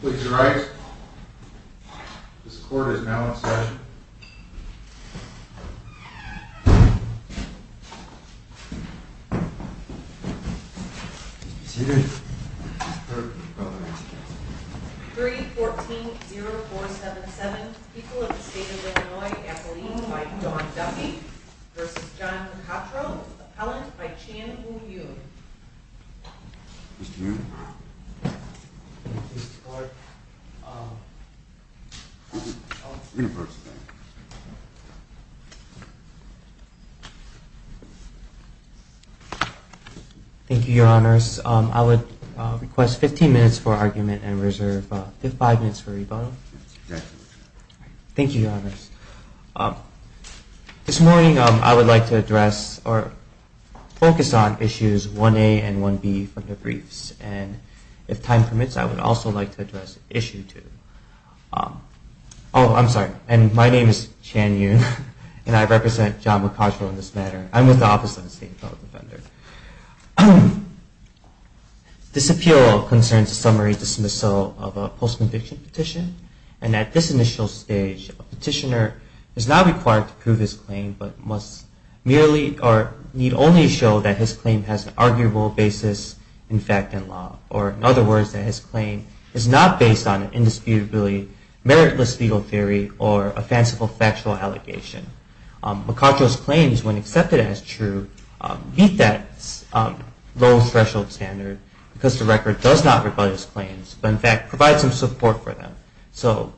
Please rise. This court is now in session. 3-14-0-4-7-7. People of the State of Illinois. Appellee by Dawn Duffy v. John McCottrell. Appellant by Chan Woo Yoon. Mr. Yoon. Mr. Clark. University. Thank you, Your Honors. I would request 15 minutes for argument and reserve 5 minutes for rebuttal. Thank you, Your Honors. This morning, I would like to address or focus on issues 1A and 1B from the briefs. And if time permits, I would also like to address issue 2. Oh, I'm sorry. And my name is Chan Yoon, and I represent John McCottrell in this matter. I'm with the Office of the State Appellate Defender. This appeal concerns a summary dismissal of a post-conviction petition. And at this initial stage, a petitioner is not required to prove his claim, but must merely or need only show that his claim has an arguable basis in fact and law. Or in other words, that his claim is not based on an indisputably meritless legal theory or a fanciful factual allegation. McCottrell's claims, when accepted as true, meet that low threshold standard because the record does not rebut his claims, but in fact provides some support for them. So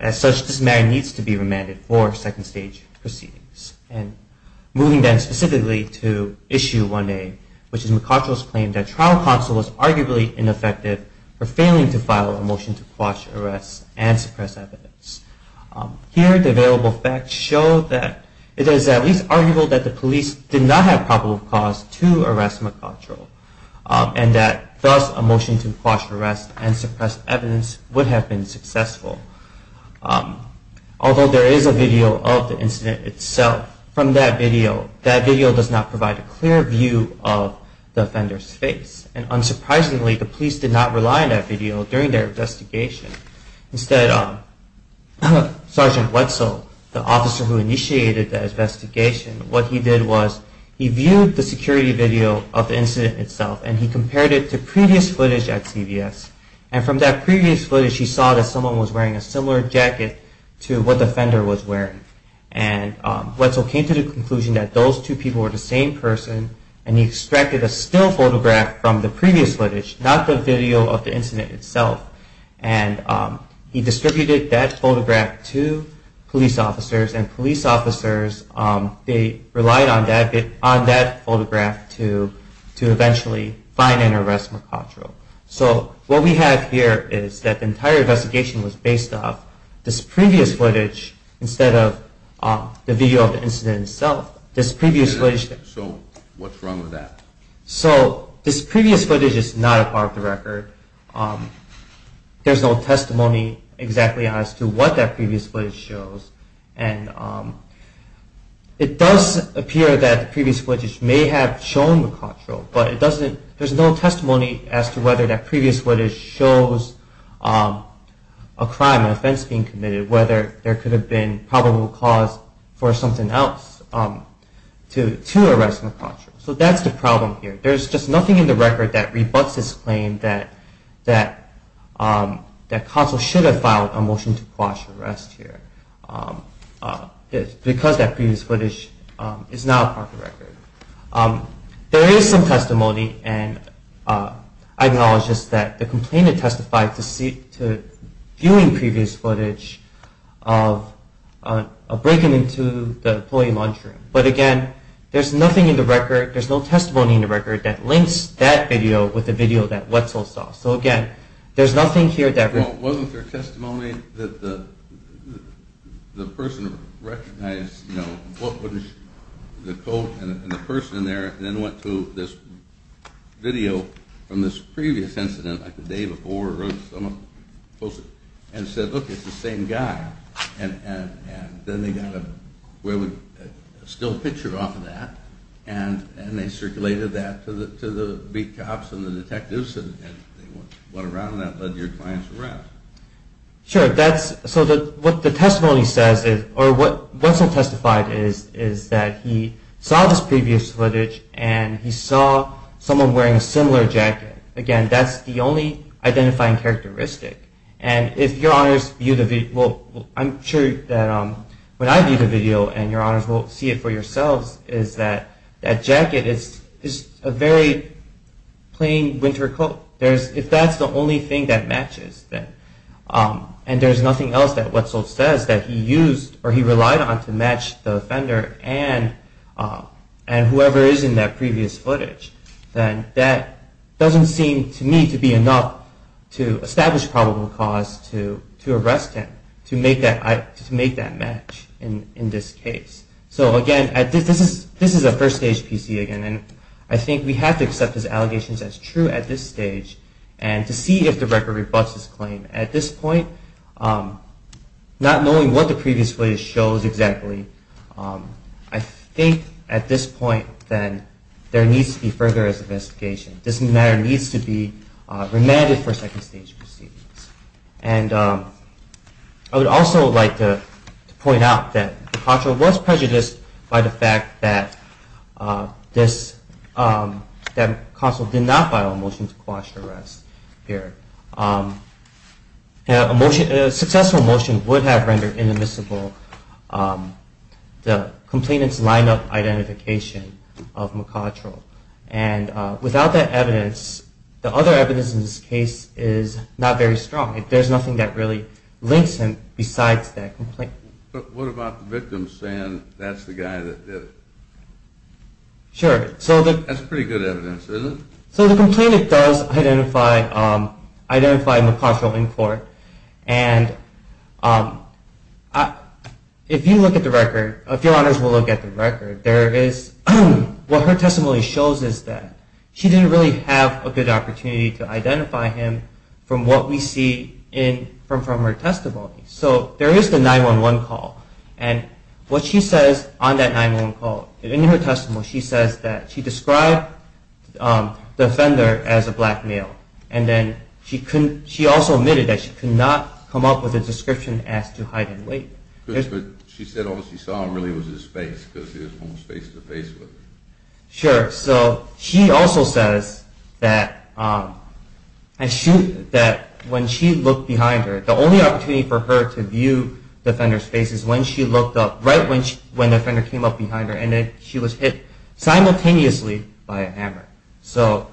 as such, this matter needs to be remanded for second stage proceedings. And moving then specifically to issue 1A, which is McCottrell's claim that trial counsel was arguably ineffective for failing to file a motion to quash arrests and suppress evidence. Here, the available facts show that it is at least arguable that the police did not have probable cause to arrest McCottrell, and that thus a motion to quash arrests and suppress evidence would have been successful. Although there is a video of the incident itself, from that video, that video does not provide a clear view of the offender's face. And unsurprisingly, the police did not rely on that video during their investigation. Instead, Sergeant Wetzel, the officer who initiated the investigation, what he did was he viewed the security video of the incident itself and he compared it to previous footage at CBS. And from that previous footage, he saw that someone was wearing a similar jacket to what the offender was wearing. And Wetzel came to the conclusion that those two people were the same person, and he extracted a still photograph from the previous footage, not the video of the incident itself. And he distributed that photograph to police officers, and police officers, they relied on that photograph to eventually find and arrest McCottrell. So what we have here is that the entire investigation was based off this previous footage instead of the video of the incident itself. So what's wrong with that? So this previous footage is not a part of the record. There's no testimony exactly as to what that previous footage shows. And it does appear that the There's no testimony as to whether that previous footage shows a crime, an offense being committed, whether there could have been probable cause for something else to arrest McCottrell. So that's the problem here. There's just nothing in the record that rebutts this claim that Wetzel should have filed a acknowledges that the complainant testified to viewing previous footage of breaking into the employee lunchroom. But again, there's nothing in the record, there's no testimony in the record that links that video with the video that Wetzel saw. So again, there's nothing here that... Well, wasn't there testimony that the person recognized, you know, the coat and the person in there, and then went to this video from this previous incident like the day before, and said, look, it's the same guy. And then they got a still picture off of that, and they circulated that to the beat cops and the detectives, and they went around that and led your clients around. Sure. So what the testimony says, or what Wetzel testified is, is that he saw this previous footage, and he saw someone wearing a similar jacket. Again, that's the only identifying characteristic. And if your honors view the video, well, I'm sure that when I view the video and your honors will see it for yourselves, is that jacket is a very plain winter coat. If that's the only thing that matches, and there's nothing else that Wetzel says that he relied on to match the offender and whoever is in that previous footage, then that doesn't seem to me to be enough to establish probable cause to make that match in this case. So again, this is a first stage PC, and I think we have to accept his allegations as true at this stage, and to see if the record rebutts his claim. At this point, not knowing what the previous footage shows exactly, I think at this point then there needs to be further investigation. This matter needs to be remanded for second stage proceedings. And I would also like to point out that McCottrell was prejudiced by the fact that McCostle did not file a motion to quash the arrest here. A successful motion would have rendered inadmissible the complainant's lineup for identification of McCottrell. And without that evidence, the other evidence in this case is not very strong. There's nothing that really links him besides that complaint. But what about the victim saying that's the guy that did it? That's pretty good evidence, isn't it? So the complainant does identify McCottrell in court. And if you look at the record, if your honors will look at the record, what her testimony shows is that she didn't really have a good opportunity to identify him from what we see from her testimony. So there is the 911 call. And what she says on that 911 call, in her testimony, is that she identified the offender as a black male. And she also admitted that she could not come up with a description as to hide and wait. She said all she saw really was his face, because he was almost face to face with her. Sure. So she also says that when she looked behind her, the only opportunity for her to view the offender's face is when she looked up, right when the offender came up behind her, and she was hit simultaneously by a hammer. So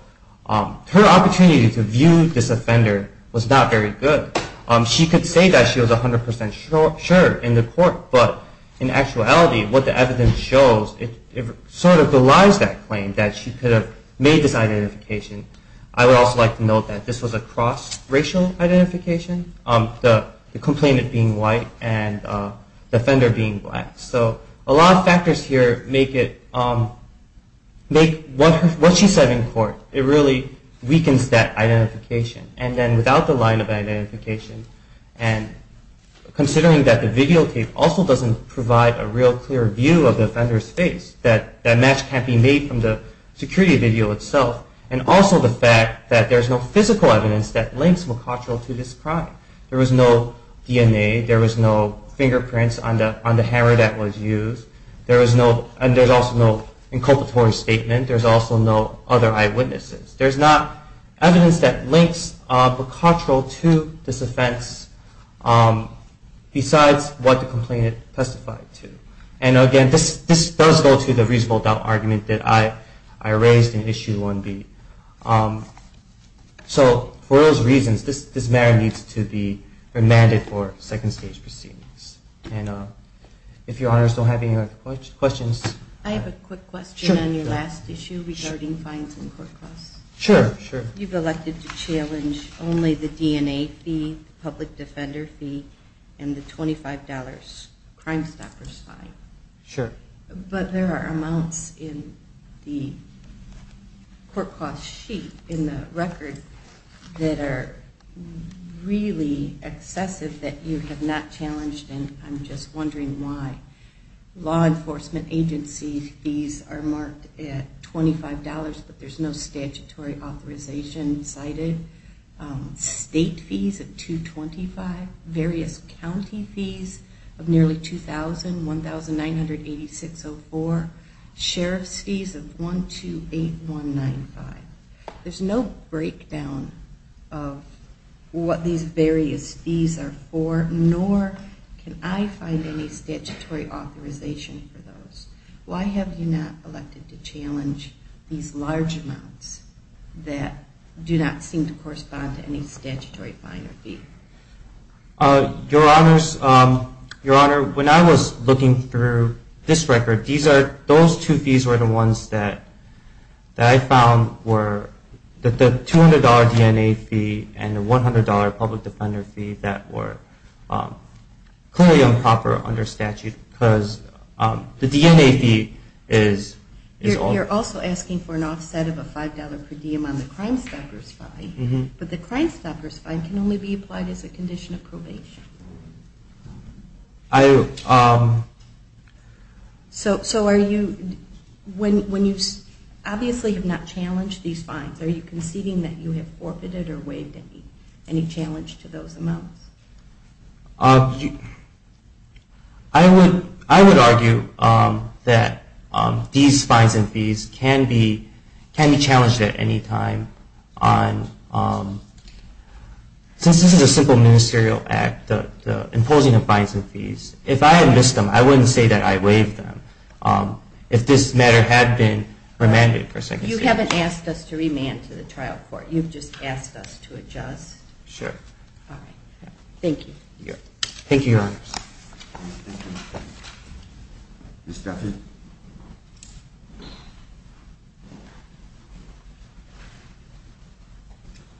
her opportunity to view this offender was not very good. She could say that she was 100% sure in the court, but in actuality, what the evidence shows, it sort of belies that claim that she could have made this identification. I would also like to note that this was a cross-racial identification, the complainant being white and the offender being black. So a lot of factors here make what she said in court, it really weakens that identification. And then without the line of identification, and considering that the videotape also doesn't provide a real clear view of the offender's face, that match can't be made from the security video itself, and also the fact that there's no physical evidence that links McCutchell to this crime. There was no DNA, there was no fingerprints on the murder that was used, and there's also no inculpatory statement, there's also no other eyewitnesses. There's not evidence that links McCutchell to this offense besides what the complainant testified to. And again, this does go to the reasonable doubt argument that I raised in Issue 1B. So for those reasons, this matter needs to be remanded for second stage proceedings. And if your Honor is still having questions... I have a quick question on your last issue regarding fines and court costs. You've elected to challenge only the DNA fee, the public defender fee, and the $25 crime stopper's fine. But there are amounts in the court costs sheet in the record that are really excessive that you have not challenged, and I'm just of nearly $2,000, $1,986.04, sheriff's fees of $128,195. There's no breakdown of what these various fees are for, nor can I find any statutory authorization for those. Why have you not elected to challenge these large amounts that do not seem to correspond to any statutory fine or fee? Your Honor, when I was looking through this record, those two fees were the ones that I found were the $200 DNA fee and the $100 public defender fee that were clearly improper under statute because the DNA fee is... You're also asking for an offset of a $5 per diem on the crime stopper's fine, but the crime stopper's fine can only be applied as a condition of probation. So when you obviously have not challenged these fines, are you conceding that you have forfeited or waived any challenge to those amounts? I would argue that these fines and fees can be challenged at any time. Since this is a simple ministerial act, the imposing of fines and fees, if I had missed them, I wouldn't say that I waived them. If this matter had been remanded for a second... So you haven't asked us to remand to the trial court, you've just asked us to adjust? Sure. All right. Thank you. Thank you, Your Honors. Good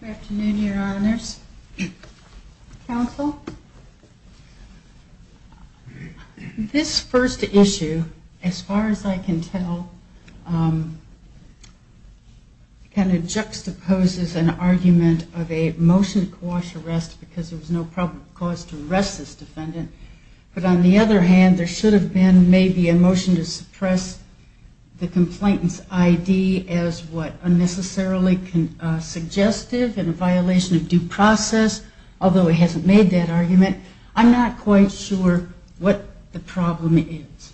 afternoon, Your Honors. Counsel? This first issue, as far as I can tell, kind of juxtaposes an argument of a motion to quash arrest because there was no probable cause to arrest this defendant. But on the other hand, there should have been maybe a motion to suppress the complainant's ID as what unnecessarily suggestive in a violation of due process, although he hasn't made that argument. I'm not quite sure what the problem is.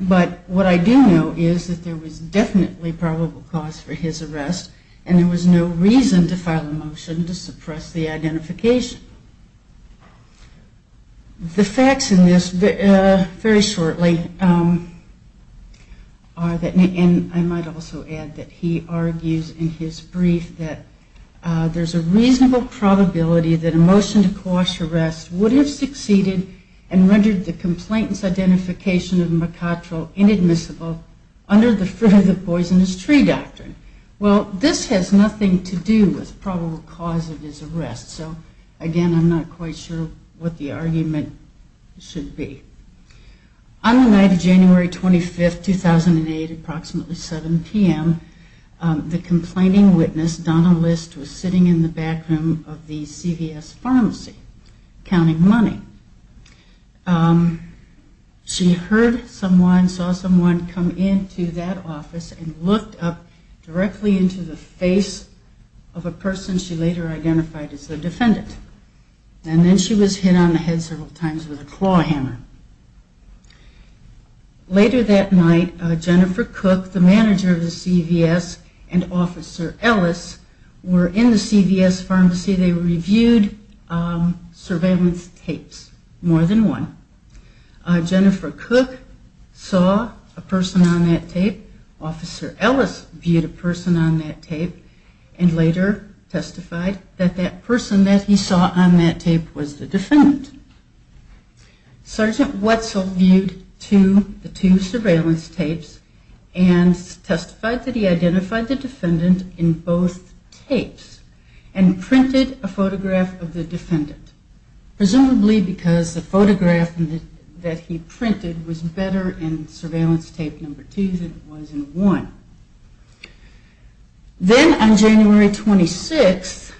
But what I do know is that there was definitely probable cause for his arrest, and there was no reason to file a motion to suppress the identification. The facts in this, very shortly, and I might also add that he argues in his brief that there's a reasonable probability that a motion to quash arrest would have succeeded and rendered the complainant's identification of Mercator inadmissible under the fruit of the poisonous tree doctrine. Well, this has nothing to do with probable cause of his arrest. So, again, I'm not quite sure what the argument should be. On the night of January 25, 2008, approximately 7 p.m., the complaining witness, Donna List, was sitting in the back room of the CVS pharmacy, counting money. She heard someone, saw someone come into that office and looked up directly into the face of a person she later identified as the defendant. And then she was hit on the head several times with a claw hammer. Later that night, Jennifer Cook, the manager of the CVS, and Officer Ellis were in the CVS pharmacy. They reviewed surveillance tapes, more than one. Jennifer Cook saw a person on that tape. Officer Ellis viewed a person on that tape and later testified that that person that he saw on that tape was the photograph that he printed was better in surveillance tape number two than it was in one. Then, on January 26,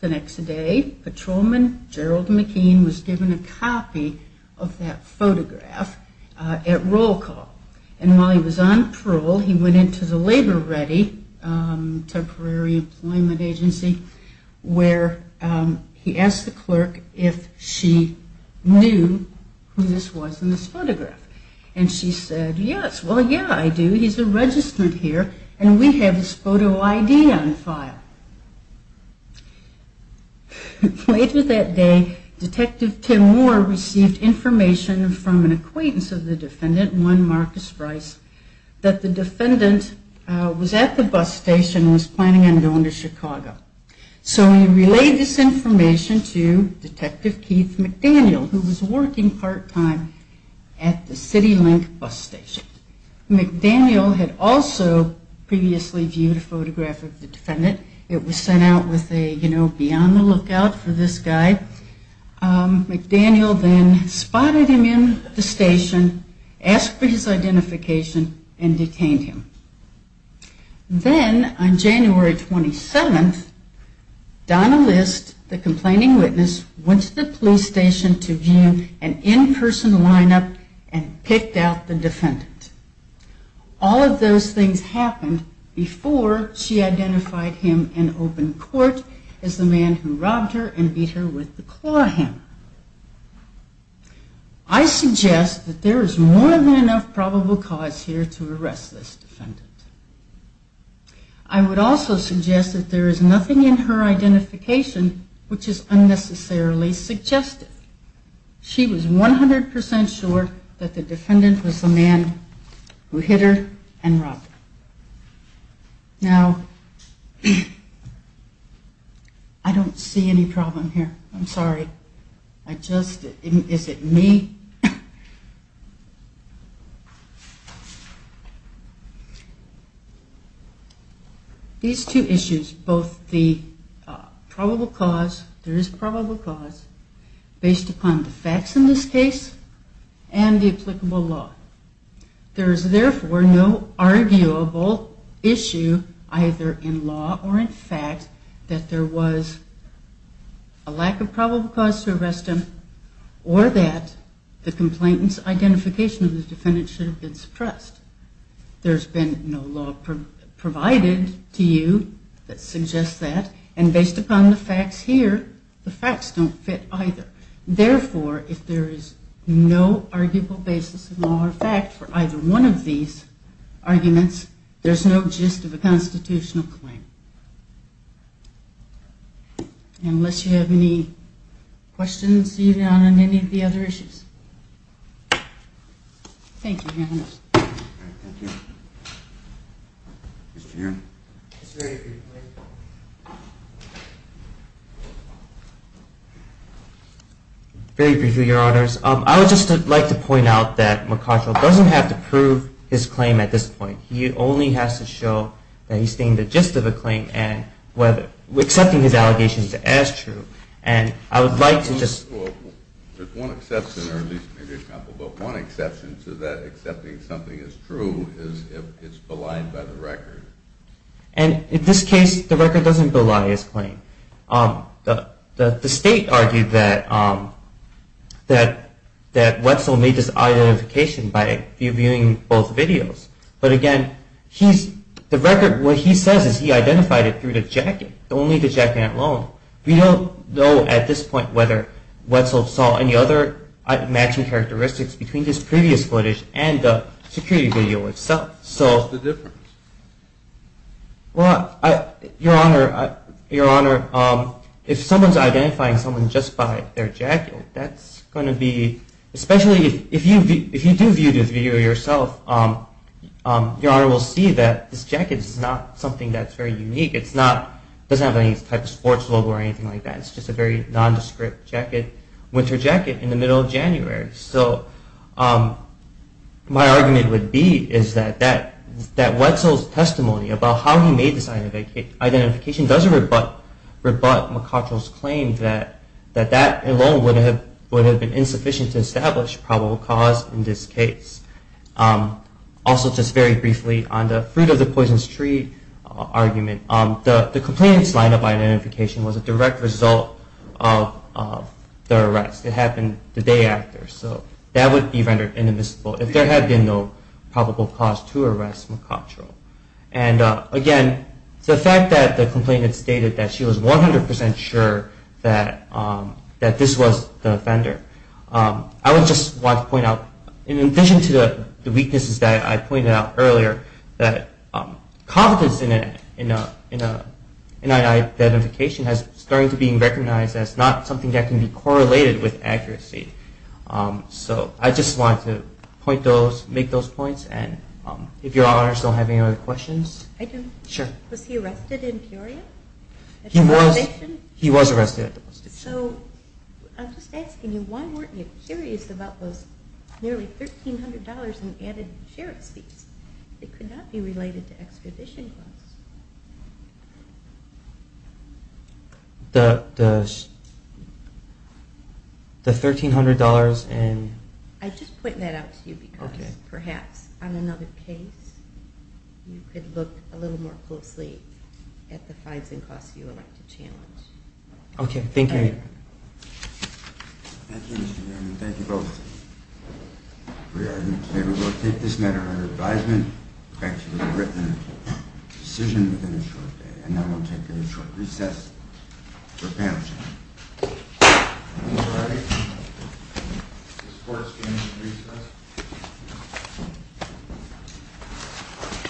the next day, patrolman Gerald McKean was given a copy of that photograph. And she knew who this was in this photograph. And she said, yes, well, yeah, I do. He's a registrant here and we have his photo ID on the file. Later that day, Detective Tim Moore received information from an acquaintance of the defendant, one Marcus Rice, that the defendant was at the bus station and was planning on going to Chicago. So he relayed this information to Detective Keith McDaniel, who was working part-time at the CityLink bus station. McDaniel had also previously viewed a photograph of the defendant. It was sent out with a, you know, be on the lookout for this guy. McDaniel then spotted him in the station, asked for his identification and detained him. Then, on January 27, Donna List, the complaining witness, went to the police station to view an in-person lineup and picked out the defendant. All of those things happened before she identified him in open court as the man who robbed her and beat her with the knife. She was 100% sure that the defendant was the man who hit her and robbed her. Now, I don't see any problem here. I'm sorry. Is it me? These two issues, both the probable cause, there is probable cause, based upon the facts in this case and the applicable law. There is therefore no arguable issue either in law or in fact that there was a lack of probable cause to arrest him or that the complainant's identification of the defendant should have been suppressed. There has been no law provided to you that suggests that, and based upon the facts here, the facts don't fit either. Therefore, if there is no arguable basis in law or fact for either one of these arguments, there is no gist of a constitutional claim. Unless you have any questions on any of the other issues. Thank you, Your Honor. Very briefly, Your Honors. I would just like to point out that McConnell doesn't have to prove his claim at this point. He only has to show that he is stating the gist of the claim and accepting his allegations as true. There is one exception to that, accepting something as true is if it is belied by the record. And in this case, the record doesn't belied his claim. The state argued that Wetzel made this identification by viewing both videos. But again, what he says is he identified it through the jacket, only the jacket alone. We don't know at this point whether Wetzel saw any other matching characteristics between this previous footage and the security video itself. What's the difference? Well, Your Honor, if someone is identifying someone just by their jacket, that's going to be, especially if you do view this video yourself, Your Honor will see that this jacket is not something that's very unique. It doesn't have any type of sports logo or anything like that. It's just a very nondescript winter jacket in the middle of January. So my argument would be that Wetzel's testimony about how he made this identification doesn't rebut McCutchell's claim that that alone would have been insufficient to establish probable cause in this case. Also, just very briefly, on the fruit of the poisonous tree argument, the complainant's line of identification was a direct result of the arrest. It happened the day after. So that would be rendered inadmissible if there had been no probable cause to arrest McCutchell. And again, the fact that the complainant stated that she was 100% sure that this was the offender. I would just like to point out, in addition to the weaknesses that I pointed out earlier, that competence in an identification is starting to be recognized as not something that can be correlated with accuracy. So I just wanted to make those points, and if Your Honor still have any other questions? I do. Sure. Was he arrested in Peoria? He was arrested. So I'm just asking you, why weren't you curious about those nearly $1,300 in added sheriff's fees that could not be related to extradition costs? The $1,300 in… I'm just putting that out to you because perhaps on another case you could look a little more closely at the fines and costs you would like to challenge. Okay. Thank you. Thank you, Mr. Gannon. Thank you both. If we are in favor, we will take this matter under advisement. In fact, you would have written a decision within a short day. And now we'll take a short recess for panel discussion. All right. This court is adjourned.